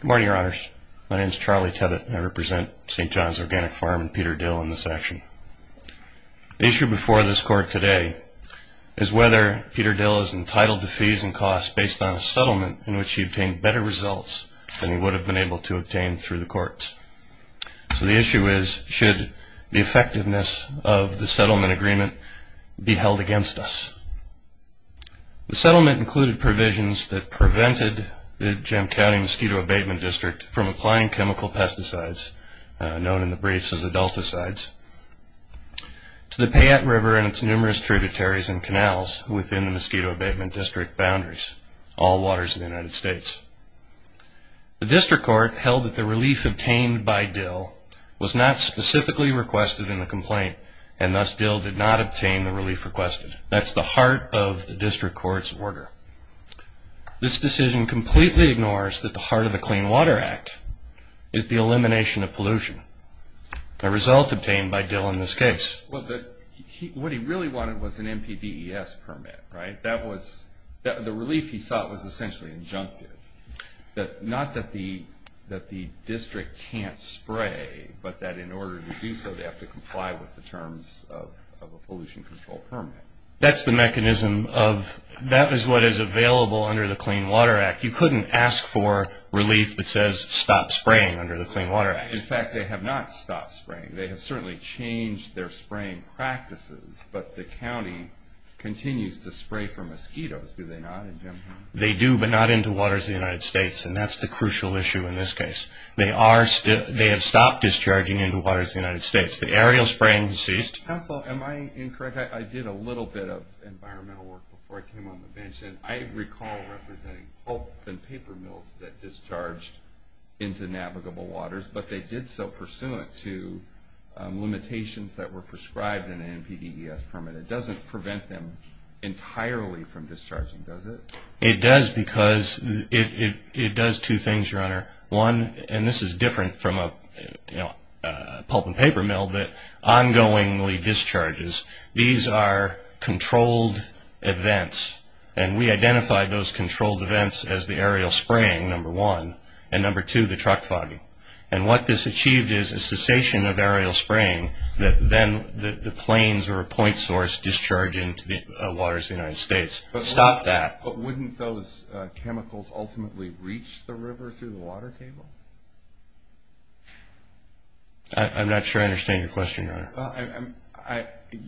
Good morning, Your Honors. My name is Charlie Tebbitt, and I represent St. John's Organic Farm and Peter Dill in this action. The issue before this Court today is whether Peter Dill is entitled to fees and costs based on a settlement in which he obtained better results than he would have been able to obtain through the courts. So the issue is, should the effectiveness of the settlement agreement be held against us? The settlement included provisions that prevented the Gem County Mosquito Abatement District from applying chemical pesticides, known in the briefs as adulticides, to the Payette River and its numerous tributaries and canals within the Mosquito Abatement District boundaries, all waters of the United States. The District Court held that the relief obtained by Dill was not specifically requested in the complaint, and thus Dill did not obtain the relief requested. That's the heart of the District Court's order. This decision completely ignores that the heart of the Clean Water Act is the elimination of pollution, a result obtained by Dill in this case. Well, what he really wanted was an NPDES permit, right? The relief he sought was essentially injunctive. Not that the District can't spray, but that in order to do so they have to comply with the terms of a pollution control permit. That's the mechanism of, that is what is available under the Clean Water Act. You couldn't ask for relief that says stop spraying under the Clean Water Act. In fact, they have not stopped spraying. They have certainly changed their spraying practices, but the county continues to spray for mosquitoes, do they not? They do, but not into waters of the United States, and that's the crucial issue in this case. They have stopped discharging into waters of the United States. The aerial spraying ceased. Counsel, am I incorrect? I did a little bit of environmental work before I came on the bench, and I recall representing pulp and paper mills that discharged into navigable waters, but they did so pursuant to limitations that were prescribed in an NPDES permit. It doesn't prevent them entirely from discharging, does it? It does because it does two things, Your Honor. One, and this is different from a pulp and paper mill that ongoingly discharges. These are controlled events, and we identified those controlled events as the aerial spraying, number one, and number two, the truck fogging. And what this achieved is a cessation of aerial spraying that then the planes or a point source discharge into the waters of the United States. Stop that. But wouldn't those chemicals ultimately reach the river through the water table? I'm not sure I understand your question, Your Honor.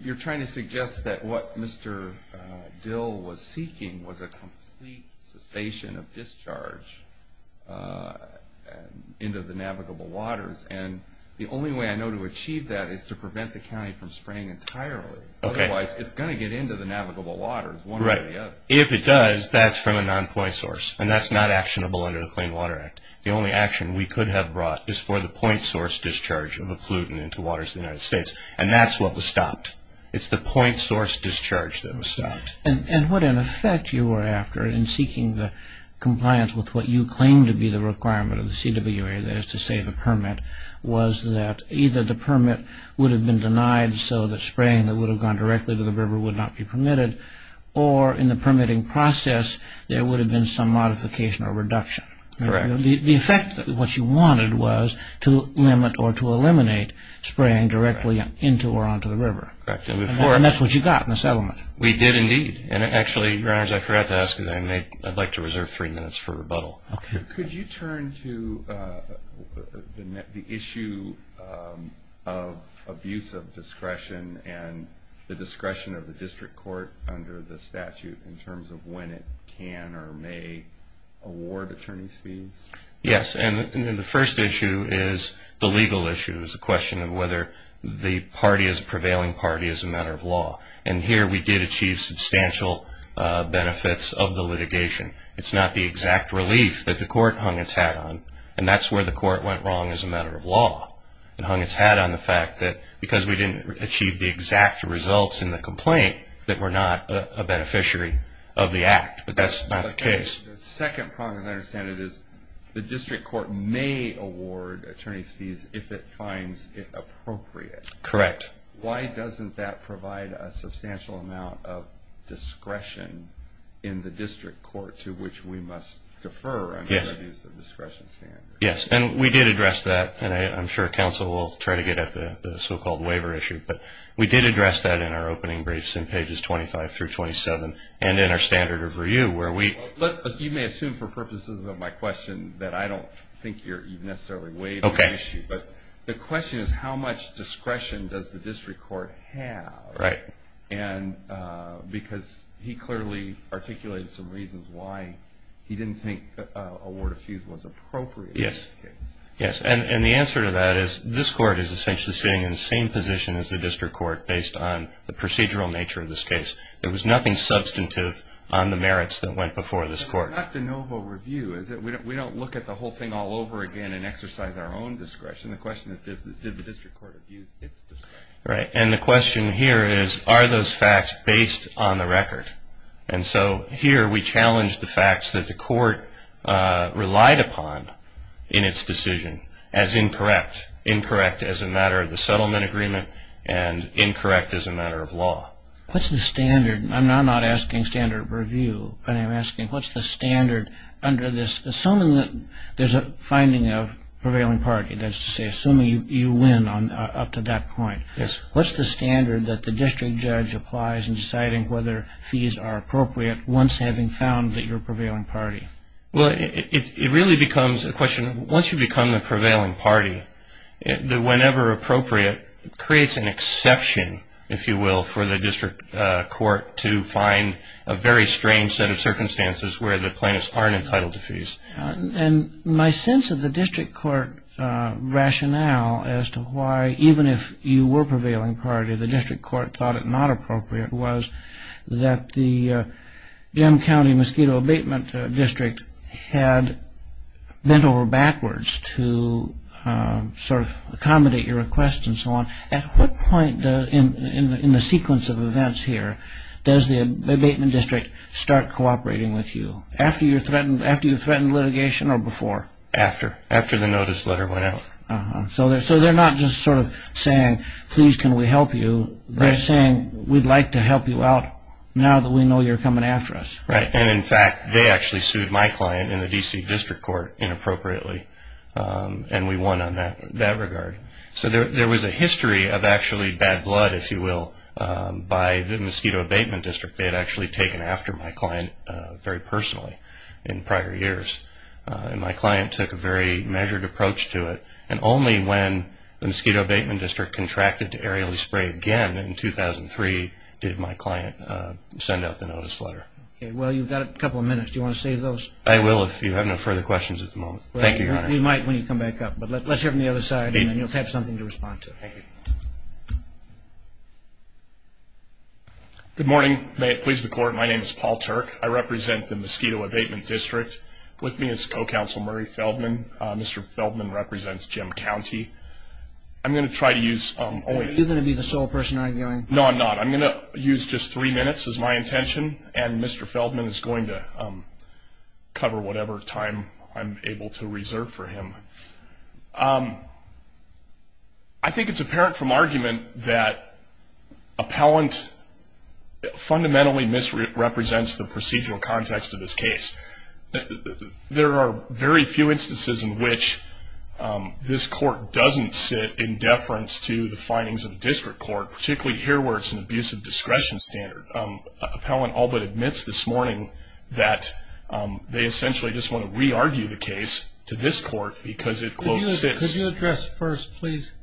You're trying to suggest that what Mr. Dill was seeking was a complete cessation of discharge into the navigable waters, and the only way I know to achieve that is to prevent the county from spraying entirely. Otherwise, it's going to get into the navigable waters one way or the other. Right. If it does, that's from a non-point source, and that's not actionable under the Clean Water Act. The only action we could have brought is for the point source discharge of a pollutant into the waters of the United States, and that's what was stopped. It's the point source discharge that was stopped. And what, in effect, you were after in seeking the compliance with what you claimed to be the requirement of the CWA, that is to say the permit, was that either the permit would have been denied so the spraying that would have gone directly to the river would not be permitted, or in the permitting process, there would have been some modification or reduction. Correct. The effect of what you wanted was to limit or to eliminate spraying directly into or onto the river. Correct. And that's what you got in the settlement. We did, indeed. And actually, Your Honors, I forgot to ask you that. I'd like to reserve three minutes for rebuttal. Okay. Could you turn to the issue of abuse of discretion and the discretion of the district court under the statute in terms of when it can or may award attorneys fees? Yes. And the first issue is the legal issue. It's a question of whether the party is a prevailing party as a matter of law. And here we did achieve substantial benefits of the litigation. It's not the exact relief that the court hung its hat on, and that's where the court went wrong as a matter of law and hung its hat on the fact that because we didn't achieve the exact results in the complaint, that we're not a beneficiary of the act. But that's not the case. The second problem, as I understand it, is the district court may award attorneys fees if it finds it appropriate. Correct. Why doesn't that provide a substantial amount of discretion in the district court to which we must defer? I mean, that is the discretion standard. Yes. And we did address that, and I'm sure counsel will try to get at the so-called waiver issue. But we did address that in our opening briefs in pages 25 through 27 and in our standard review where we – You may assume for purposes of my question that I don't think you're necessarily waiving the issue. Okay. But the question is how much discretion does the district court have? Right. And because he clearly articulated some reasons why he didn't think award of fees was appropriate in this case. Yes. Yes, and the answer to that is this court is essentially sitting in the same position as the district court based on the procedural nature of this case. There was nothing substantive on the merits that went before this court. It's not de novo review, is it? We don't look at the whole thing all over again and exercise our own discretion. The question is did the district court abuse its discretion? Right. And the question here is are those facts based on the record? And so here we challenge the facts that the court relied upon in its decision as incorrect. Incorrect as a matter of the settlement agreement and incorrect as a matter of law. What's the standard? I'm not asking standard review, but I'm asking what's the standard under this? Assuming that there's a finding of prevailing party, that is to say assuming you win up to that point. Yes. What's the standard that the district judge applies in deciding whether fees are appropriate once having found that you're a prevailing party? Well, it really becomes a question, once you become the prevailing party, the whenever appropriate creates an exception, if you will, for the district court to find a very strange set of circumstances where the plaintiffs aren't entitled to fees. And my sense of the district court rationale as to why, even if you were prevailing party, the district court thought it not appropriate was that the Jim County Mosquito Abatement District had bent over backwards to sort of accommodate your request and so on. At what point in the sequence of events here does the abatement district start cooperating with you? After you threatened litigation or before? After. After the notice letter went out. So they're not just sort of saying, please, can we help you? They're saying, we'd like to help you out now that we know you're coming after us. Right, and in fact, they actually sued my client in the D.C. District Court inappropriately, and we won on that regard. So there was a history of actually bad blood, if you will, by the Mosquito Abatement District. They had actually taken after my client very personally in prior years, and my client took a very measured approach to it. And only when the Mosquito Abatement District contracted to aerially spray again in 2003 did my client send out the notice letter. Okay, well, you've got a couple of minutes. Do you want to save those? I will if you have no further questions at the moment. Thank you, Your Honor. We might when you come back up, but let's hear from the other side, and then you'll have something to respond to. Thank you. Good morning. May it please the Court, my name is Paul Turk. I represent the Mosquito Abatement District. With me is Co-Counsel Murray Feldman. Mr. Feldman represents Jim County. I'm going to try to use only three minutes. Are you going to be the sole person arguing? No, I'm not. I'm going to use just three minutes as my intention, and Mr. Feldman is going to cover whatever time I'm able to reserve for him. I think it's apparent from argument that appellant fundamentally misrepresents the procedural context of this case. There are very few instances in which this court doesn't sit in deference to the findings of a district court, particularly here where it's an abusive discretion standard. Appellant all but admits this morning that they essentially just want to re-argue the case to this court because it, quote, Could you address first, please,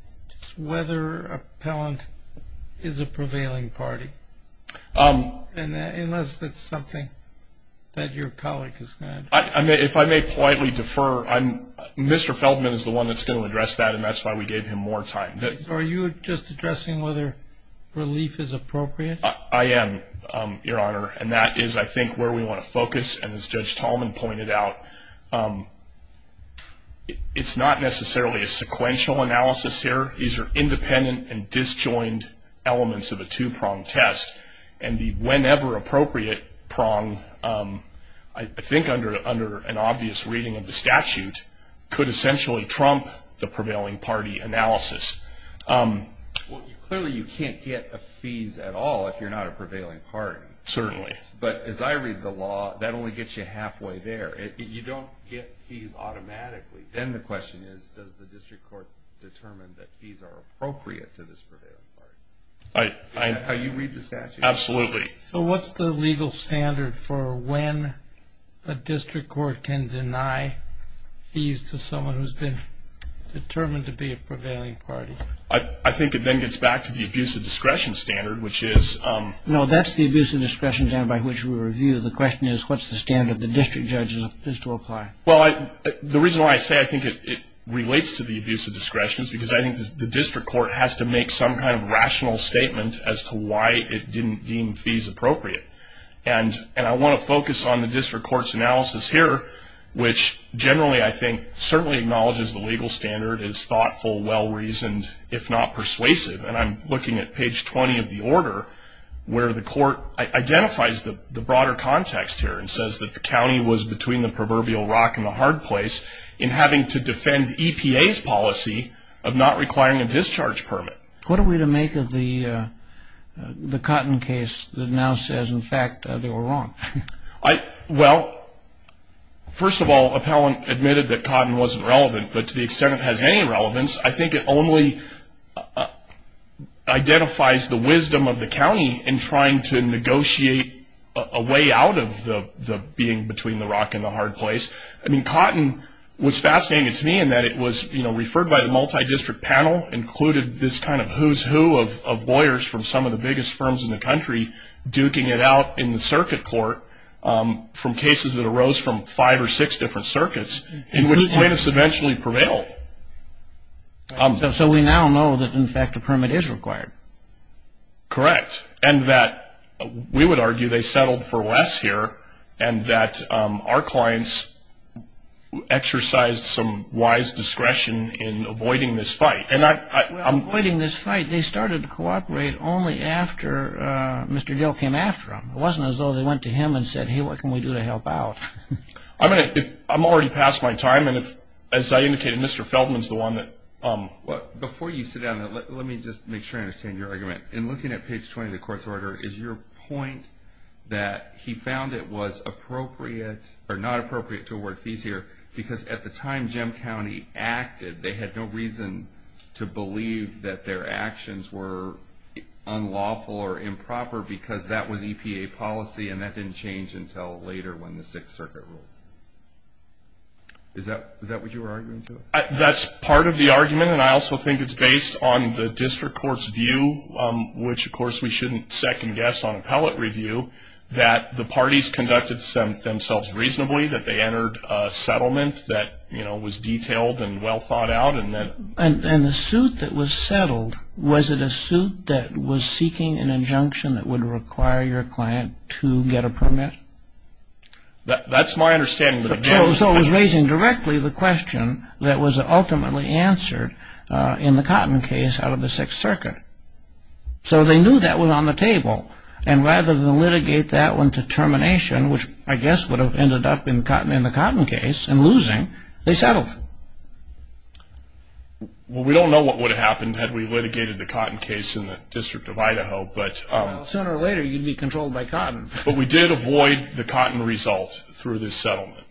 whether appellant is a prevailing party? Unless that's something that your colleague is going to address. If I may politely defer, Mr. Feldman is the one that's going to address that, and that's why we gave him more time. Are you just addressing whether relief is appropriate? I am, Your Honor, and that is, I think, where we want to focus, and as Judge Tallman pointed out, it's not necessarily a sequential analysis here. These are independent and disjoined elements of a two-pronged test, and the whenever appropriate prong, I think under an obvious reading of the statute, could essentially trump the prevailing party analysis. Well, clearly you can't get a fees at all if you're not a prevailing party. Certainly. But as I read the law, that only gets you halfway there. If you don't get fees automatically, then the question is, does the district court determine that fees are appropriate to this prevailing party? You read the statute? Absolutely. So what's the legal standard for when a district court can deny fees to someone who's been determined to be a prevailing party? I think it then gets back to the abuse of discretion standard, which is- No, that's the abuse of discretion standard by which we review. The question is, what's the standard the district judge is to apply? Well, the reason why I say I think it relates to the abuse of discretion is because I think the district court has to make some kind of rational statement as to why it didn't deem fees appropriate. And I want to focus on the district court's analysis here, which generally I think certainly acknowledges the legal standard. It's thoughtful, well-reasoned, if not persuasive. And I'm looking at page 20 of the order where the court identifies the broader context here and says that the county was between the proverbial rock and the hard place in having to defend EPA's policy of not requiring a discharge permit. What are we to make of the Cotton case that now says, in fact, they were wrong? Well, first of all, appellant admitted that Cotton wasn't relevant, but to the extent it has any relevance, I think it only identifies the wisdom of the county in trying to negotiate a way out of the being between the rock and the hard place. I mean, Cotton was fascinating to me in that it was referred by the multidistrict panel, included this kind of who's who of lawyers from some of the biggest firms in the country duking it out in the circuit court from cases that arose from five or six different circuits, in which plaintiffs eventually prevailed. So we now know that, in fact, a permit is required. Correct. And that we would argue they settled for less here and that our clients exercised some wise discretion in avoiding this fight. Well, avoiding this fight, they started to cooperate only after Mr. Gill came after them. It wasn't as though they went to him and said, hey, what can we do to help out? I'm already past my time, and as I indicated, Mr. Feldman is the one that – Before you sit down, let me just make sure I understand your argument. In looking at page 20 of the court's order, is your point that he found it was appropriate or not appropriate to award fees here because at the time Jim County acted, they had no reason to believe that their actions were unlawful or improper because that was EPA policy and that didn't change until later when the Sixth Circuit ruled? Is that what you were arguing to? That's part of the argument, and I also think it's based on the district court's view, which of course we shouldn't second-guess on appellate review, that the parties conducted themselves reasonably, that they entered a settlement that was detailed and well thought out. And the suit that was settled, was it a suit that was seeking an injunction that would require your client to get a permit? That's my understanding. So it was raising directly the question that was ultimately answered in the Cotton case out of the Sixth Circuit. So they knew that was on the table, and rather than litigate that one to termination, which I guess would have ended up in the Cotton case and losing, they settled. We don't know what would have happened had we litigated the Cotton case in the District of Idaho. But we did avoid the Cotton result through this settlement.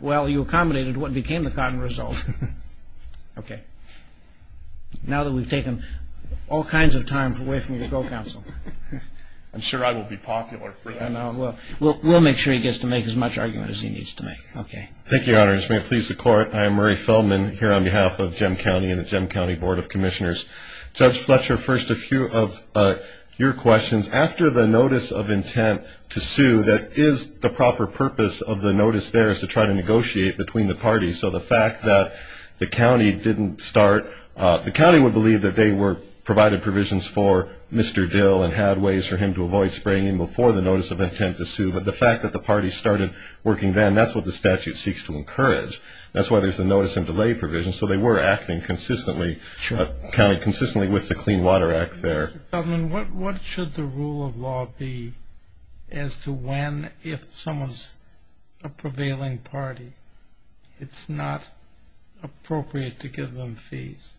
Well, you accommodated what became the Cotton result. Now that we've taken all kinds of time away from you to go, counsel. I'm sure I will be popular for that. We'll make sure he gets to make as much argument as he needs to make. Thank you, Your Honors. May it please the Court, I am Murray Feldman, here on behalf of Jem County and the Jem County Board of Commissioners. Judge Fletcher, first a few of your questions. After the notice of intent to sue, that is the proper purpose of the notice there, is to try to negotiate between the parties. So the fact that the county didn't start, the county would believe that they provided provisions for Mr. Dill and had ways for him to avoid spraying him before the notice of intent to sue. But the fact that the party started working then, that's what the statute seeks to encourage. That's why there's the notice and delay provision. So they were acting consistently with the Clean Water Act there. Mr. Feldman, what should the rule of law be as to when, if someone's a prevailing party, it's not appropriate to give them fees?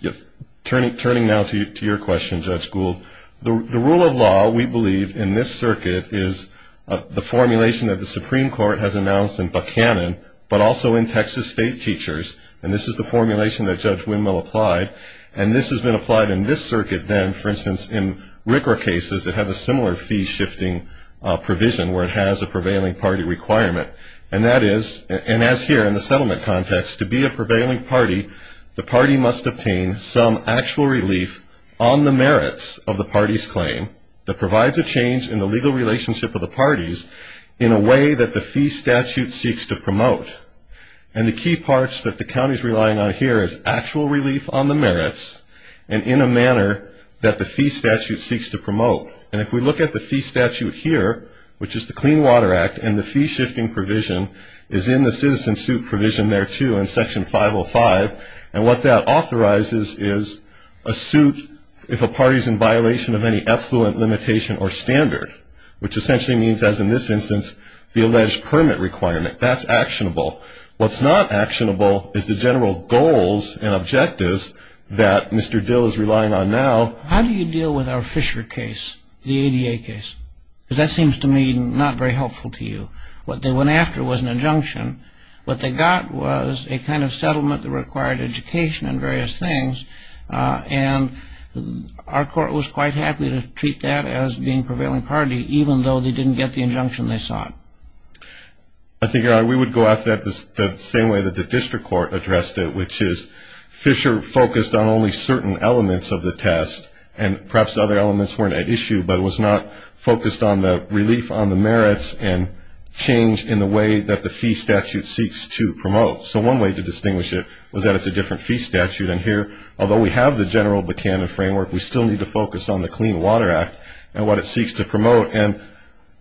Yes. Turning now to your question, Judge Gould, the rule of law, we believe, in this circuit, is the formulation that the Supreme Court has announced in Buchanan, but also in Texas state teachers. And this is the formulation that Judge Windmill applied. And this has been applied in this circuit then, for instance, in RCRA cases that have a similar fee-shifting provision where it has a prevailing party requirement. And that is, and as here in the settlement context, to be a prevailing party, the party must obtain some actual relief on the merits of the party's claim that provides a change in the legal relationship of the parties in a way that the fee statute seeks to promote. And the key parts that the county's relying on here is actual relief on the merits and in a manner that the fee statute seeks to promote. And if we look at the fee statute here, which is the Clean Water Act, and the fee-shifting provision is in the citizen suit provision there, too, in Section 505, and what that authorizes is a suit if a party's in violation of any effluent limitation or standard, which essentially means, as in this instance, the alleged permit requirement. That's actionable. What's not actionable is the general goals and objectives that Mr. Dill is relying on now. How do you deal with our Fisher case, the ADA case? Because that seems to me not very helpful to you. What they went after was an injunction. What they got was a kind of settlement that required education and various things, and our court was quite happy to treat that as being prevailing party, even though they didn't get the injunction they sought. I think we would go after that the same way that the district court addressed it, which is Fisher focused on only certain elements of the test, and perhaps other elements weren't at issue, but was not focused on the relief on the merits and change in the way that the fee statute seeks to promote. So one way to distinguish it was that it's a different fee statute, and here, although we have the general Buchanan framework, we still need to focus on the Clean Water Act and what it seeks to promote. And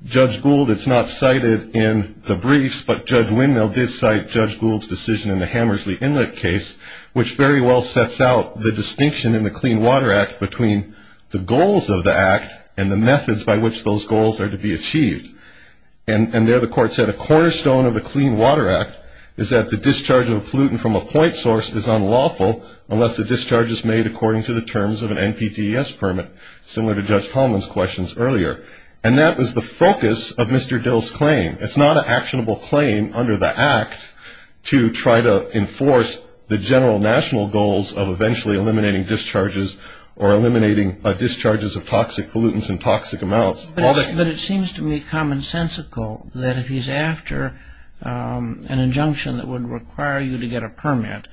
Judge Gould, it's not cited in the briefs, but Judge Windmill did cite Judge Gould's decision in the Hammersley Inlet case, which very well sets out the distinction in the Clean Water Act between the goals of the act and the methods by which those goals are to be achieved. And there the court said, a cornerstone of the Clean Water Act is that the discharge of a pollutant from a point source is unlawful unless the discharge is made according to the terms of an NPTS permit, similar to Judge Tolman's questions earlier. And that was the focus of Mr. Dill's claim. It's not an actionable claim under the act to try to enforce the general national goals of eventually eliminating discharges or eliminating discharges of toxic pollutants and toxic amounts. But it seems to me commonsensical that if he's after an injunction that would require you to get a permit,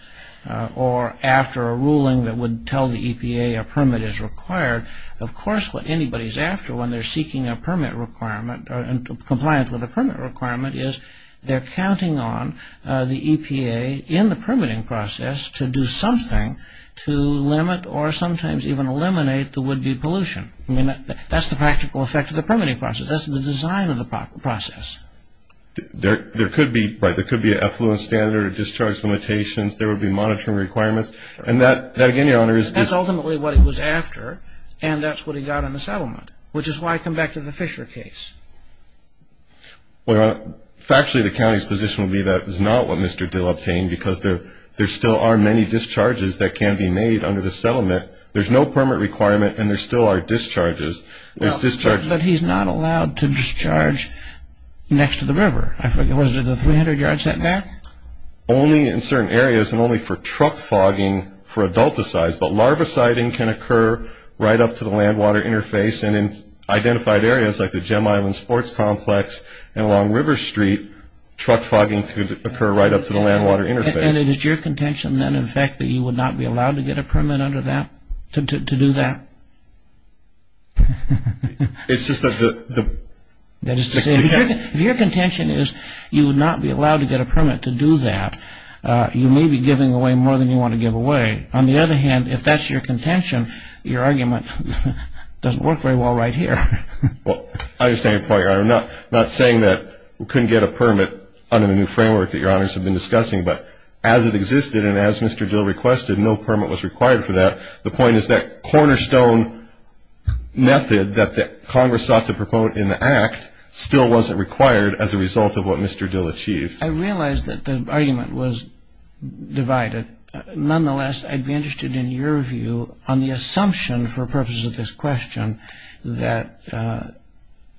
or after a ruling that would tell the EPA a permit is required, of course what anybody's after when they're seeking a permit requirement and compliance with a permit requirement is they're counting on the EPA in the permitting process to do something to limit or sometimes even eliminate the would-be pollution. I mean, that's the practical effect of the permitting process. That's the design of the process. There could be, right, there could be an effluent standard or discharge limitations. There would be monitoring requirements. And that, again, Your Honor, is... That's ultimately what he was after, and that's what he got in the settlement, which is why I come back to the Fisher case. Well, Your Honor, factually the county's position would be that is not what Mr. Dill obtained because there still are many discharges that can be made under the settlement. There's no permit requirement, and there still are discharges. But he's not allowed to discharge next to the river. I forget, what is it, the 300 yards setback? Only in certain areas and only for truck fogging for adulticides, but larvaciding can occur right up to the land-water interface, and in identified areas like the Gem Island Sports Complex and along River Street, truck fogging could occur right up to the land-water interface. And it is your contention, then, in fact, that you would not be allowed to get a permit under that to do that? It's just that the... That is to say, if your contention is you would not be allowed to get a permit to do that, you may be giving away more than you want to give away. On the other hand, if that's your contention, your argument doesn't work very well right here. Well, I understand your point, Your Honor. I'm not saying that we couldn't get a permit under the new framework that Your Honors have been discussing, but as it existed and as Mr. Dill requested, no permit was required for that. The point is that cornerstone method that Congress sought to propose in the Act still wasn't required as a result of what Mr. Dill achieved. I realize that the argument was divided. Nonetheless, I'd be interested in your view on the assumption for purposes of this question that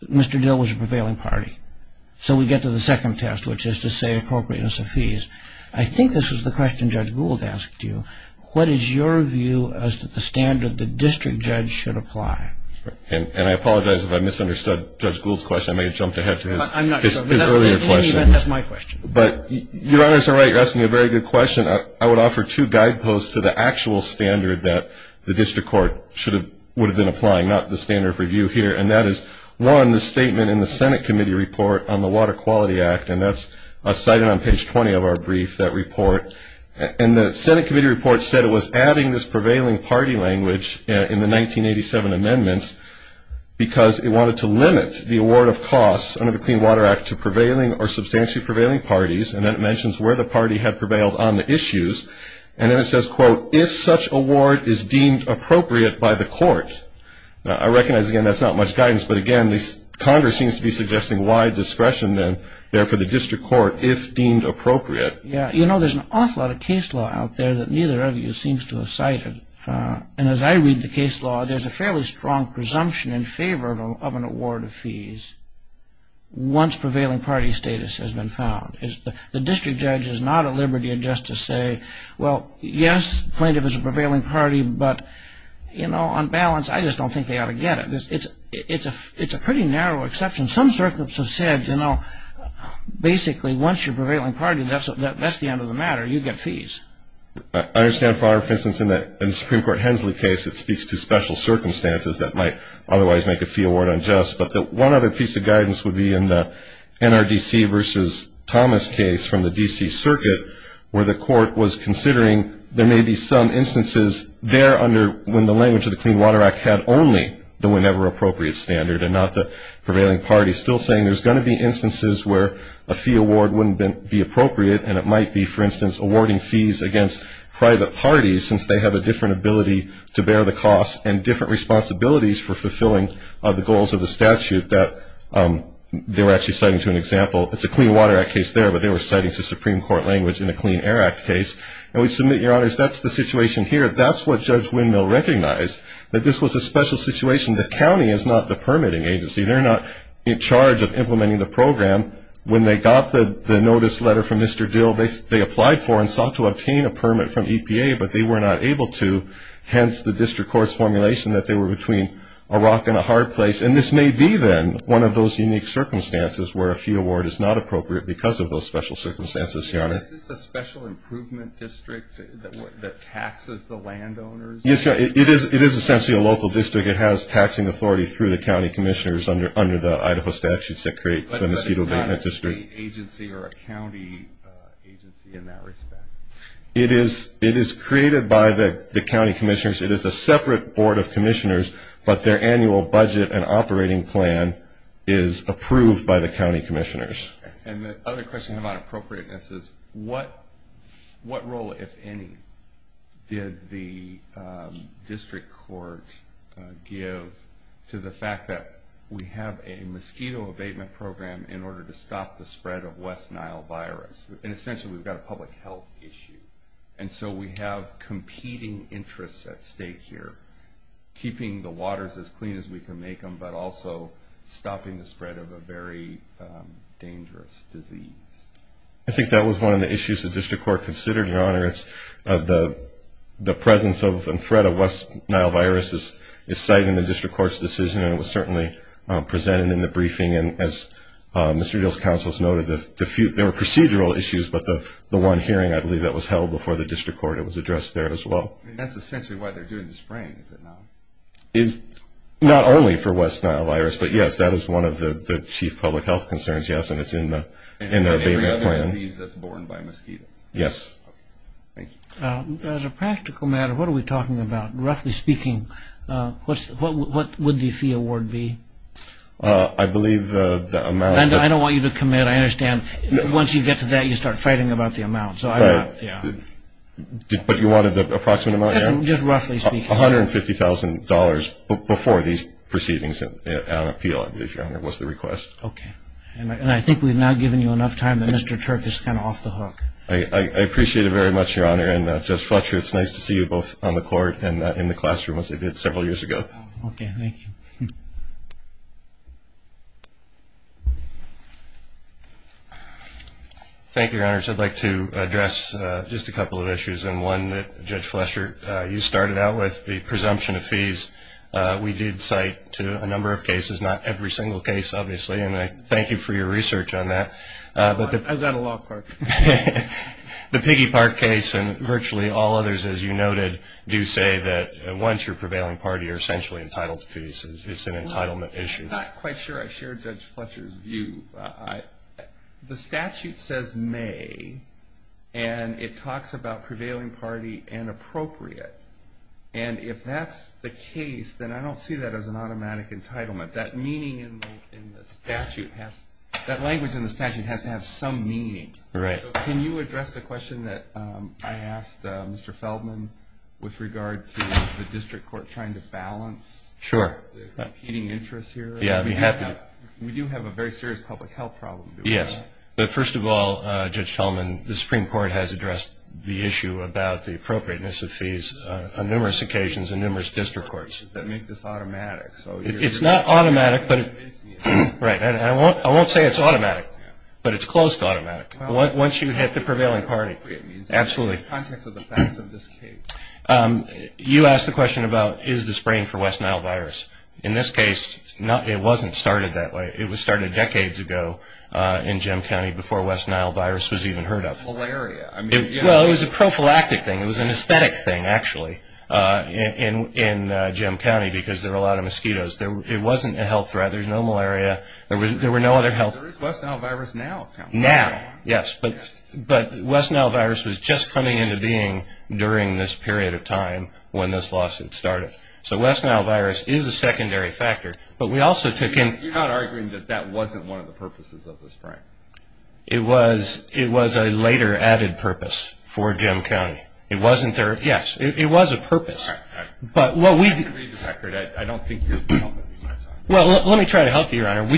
Mr. Dill was a prevailing party. So we get to the second test, which is to say appropriateness of fees. I think this was the question Judge Gould asked you. What is your view as to the standard the district judge should apply? And I apologize if I misunderstood Judge Gould's question. I may have jumped ahead to his earlier question. I'm not sure. In any event, that's my question. But Your Honors are right. You're asking a very good question. I would offer two guideposts to the actual standard that the district court would have been applying, not the standard of review here, and that is, one, the statement in the Senate Committee Report on the Water Quality Act, and that's cited on page 20 of our brief, that report. And the Senate Committee Report said it was adding this prevailing party language in the 1987 amendments because it wanted to limit the award of costs under the Clean Water Act to prevailing or substantially prevailing parties. And then it mentions where the party had prevailed on the issues. And then it says, quote, if such award is deemed appropriate by the court. Now, I recognize, again, that's not much guidance. But, again, Congress seems to be suggesting wide discretion there for the district court if deemed appropriate. Yeah. You know, there's an awful lot of case law out there that neither of you seems to have cited. And as I read the case law, there's a fairly strong presumption in favor of an award of fees once prevailing party status has been found. The district judge is not at liberty just to say, well, yes, plaintiff is a prevailing party, but, you know, on balance, I just don't think they ought to get it. It's a pretty narrow exception. Some circuits have said, you know, basically once you're a prevailing party, that's the end of the matter. You get fees. I understand, for instance, in the Supreme Court Hensley case, it speaks to special circumstances that might otherwise make a fee award unjust. But one other piece of guidance would be in the NRDC versus Thomas case from the D.C. Circuit where the court was considering there may be some instances there under when the language of the Clean Water Act had only the whenever appropriate standard and not the prevailing party, still saying there's going to be instances where a fee award wouldn't be appropriate, and it might be, for instance, awarding fees against private parties since they have a different ability to bear the costs and different responsibilities for fulfilling the goals of the statute that they were actually citing to an example. It's a Clean Water Act case there, but they were citing to Supreme Court language in a Clean Air Act case. And we submit, Your Honors, that's the situation here. That's what Judge Windmill recognized, that this was a special situation. The county is not the permitting agency. They're not in charge of implementing the program. When they got the notice letter from Mr. Dill, they applied for and sought to obtain a permit from EPA, but they were not able to, hence the district court's formulation that they were between a rock and a hard place. And this may be, then, one of those unique circumstances where a fee award is not appropriate because of those special circumstances, Your Honor. Is this a special improvement district that taxes the landowners? Yes, Your Honor. It is essentially a local district. It has taxing authority through the county commissioners under the Idaho statutes that create the Mosquito Maintenance District. But it's not a state agency or a county agency in that respect? It is created by the county commissioners. It is a separate board of commissioners, but their annual budget and operating plan is approved by the county commissioners. And the other question about appropriateness is what role, if any, did the district court give to the fact that we have a mosquito abatement program in order to stop the spread of West Nile virus? And essentially, we've got a public health issue. And so we have competing interests at stake here, keeping the waters as clean as we can make them but also stopping the spread of a very dangerous disease. I think that was one of the issues the district court considered, Your Honor. The presence and threat of West Nile virus is cited in the district court's decision, and it was certainly presented in the briefing. And as Mr. Beale's counsel has noted, there were procedural issues, but the one hearing I believe that was held before the district court, it was addressed there as well. And that's essentially why they're doing the spraying, is it not? Not only for West Nile virus, but, yes, that is one of the chief public health concerns, yes, and it's in the abatement plan. And every other disease that's borne by mosquitoes. Yes. Okay, thank you. As a practical matter, what are we talking about? Roughly speaking, what would the fee award be? I believe the amount that – I don't want you to commit. I understand once you get to that, you start fighting about the amount. But you wanted the approximate amount, Your Honor? Just roughly speaking. $150,000 before these proceedings at appeal, I believe, Your Honor, was the request. Okay. And I think we've now given you enough time that Mr. Turk is kind of off the hook. I appreciate it very much, Your Honor. And, Judge Fletcher, it's nice to see you both on the court and in the classroom, as I did several years ago. Okay, thank you. Thank you, Your Honors. I'd like to address just a couple of issues, and one that, Judge Fletcher, you started out with, the presumption of fees. We did cite to a number of cases, not every single case, obviously, and I thank you for your research on that. I've got a law clerk. The Piggy Park case and virtually all others, as you noted, do say that once you're prevailing party, you're essentially entitled to fees. It's an entitlement issue. I'm not quite sure I share Judge Fletcher's view. The statute says may, and it talks about prevailing party and appropriate, and if that's the case, then I don't see that as an automatic entitlement. That language in the statute has to have some meaning. Right. Can you address the question that I asked Mr. Feldman with regard to the district court trying to balance? Sure. The competing interests here? Yeah, I'd be happy to. But we do have a very serious public health problem. Yes. But first of all, Judge Feldman, the Supreme Court has addressed the issue about the appropriateness of fees on numerous occasions in numerous district courts. That make this automatic. It's not automatic. Right. And I won't say it's automatic, but it's close to automatic. Once you hit the prevailing party. Absolutely. In the context of the facts of this case. You asked the question about is the spraying for West Nile virus. In this case, it wasn't started that way. It was started decades ago in Jim County before West Nile virus was even heard of. Malaria. Well, it was a prophylactic thing. It was an aesthetic thing, actually, in Jim County because there were a lot of mosquitoes. It wasn't a health threat. There was no malaria. There were no other health. There is West Nile virus now. Now. Yes. But West Nile virus was just coming into being during this period of time when this lawsuit started. So West Nile virus is a secondary factor. But we also took in. You're not arguing that that wasn't one of the purposes of the spraying. It was a later added purpose for Jim County. It wasn't there. Yes. It was a purpose. But what we. I don't think you're helping me. Well, let me try to help you, Your Honor.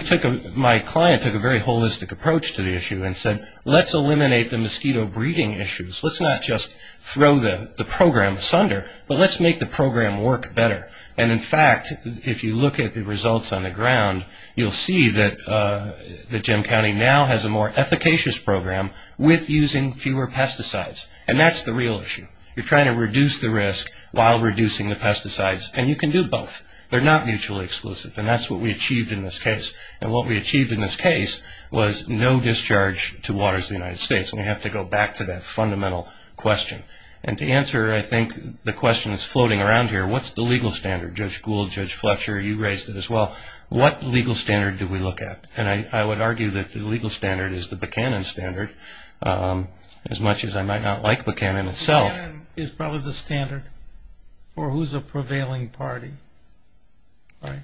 My client took a very holistic approach to the issue and said, let's eliminate the mosquito breeding issues. Let's not just throw the program asunder. But let's make the program work better. And, in fact, if you look at the results on the ground, you'll see that Jim County now has a more efficacious program with using fewer pesticides. And that's the real issue. You're trying to reduce the risk while reducing the pesticides. And you can do both. They're not mutually exclusive. And that's what we achieved in this case. And what we achieved in this case was no discharge to Waters of the United States. And we have to go back to that fundamental question. And to answer, I think, the question that's floating around here, what's the legal standard? Judge Gould, Judge Fletcher, you raised it as well. What legal standard do we look at? And I would argue that the legal standard is the Buchanan standard, as much as I might not like Buchanan itself. Buchanan is probably the standard for who's a prevailing party, right?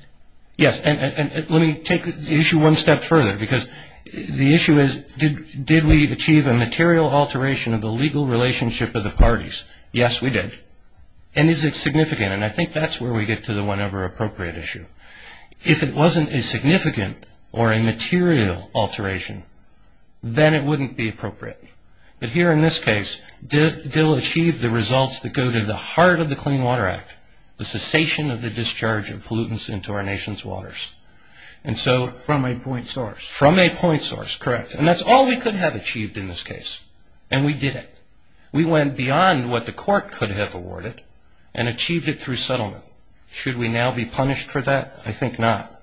Yes. And let me take the issue one step further, because the issue is did we achieve a material alteration of the legal relationship of the parties? Yes, we did. And is it significant? And I think that's where we get to the whenever appropriate issue. If it wasn't a significant or a material alteration, then it wouldn't be appropriate. But here in this case, DIL achieved the results that go to the heart of the Clean Water Act, the cessation of the discharge of pollutants into our nation's waters. From a point source. From a point source, correct. And that's all we could have achieved in this case, and we did it. We went beyond what the court could have awarded and achieved it through settlement. Should we now be punished for that? I think not.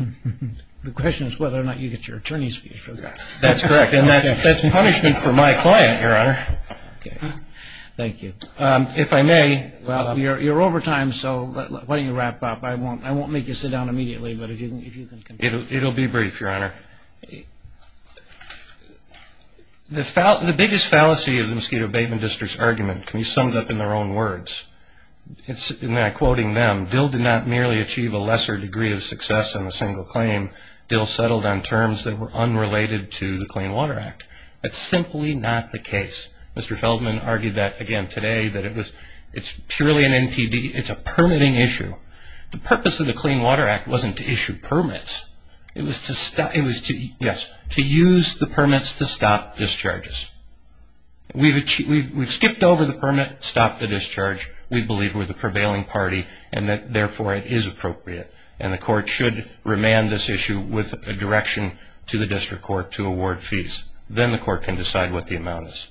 The question is whether or not you get your attorney's fees for that. That's correct, and that's punishment for my client, Your Honor. Okay. Thank you. If I may. Well, you're over time, so why don't you wrap up. I won't make you sit down immediately, but if you can continue. It'll be brief, Your Honor. The biggest fallacy of the Mosquito Abatement District's argument can be summed up in their own words. And I'm quoting them. DIL did not merely achieve a lesser degree of success in a single claim. DIL settled on terms that were unrelated to the Clean Water Act. That's simply not the case. Mr. Feldman argued that again today, that it's purely an NPD. It's a permitting issue. The purpose of the Clean Water Act wasn't to issue permits. It was to use the permits to stop discharges. We've skipped over the permit, stopped the discharge. We believe we're the prevailing party and that, therefore, it is appropriate. And the court should remand this issue with a direction to the district court to award fees. Then the court can decide what the amount is.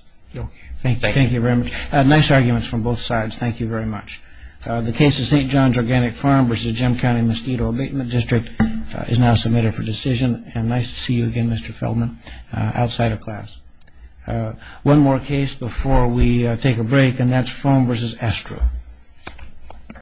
Thank you very much. Nice arguments from both sides. Thank you very much. The case of St. John's Organic Farm v. Jim County Mosquito Abatement District is now submitted for decision. And nice to see you again, Mr. Feldman, outside of class. One more case before we take a break, and that's Foam v. Estra.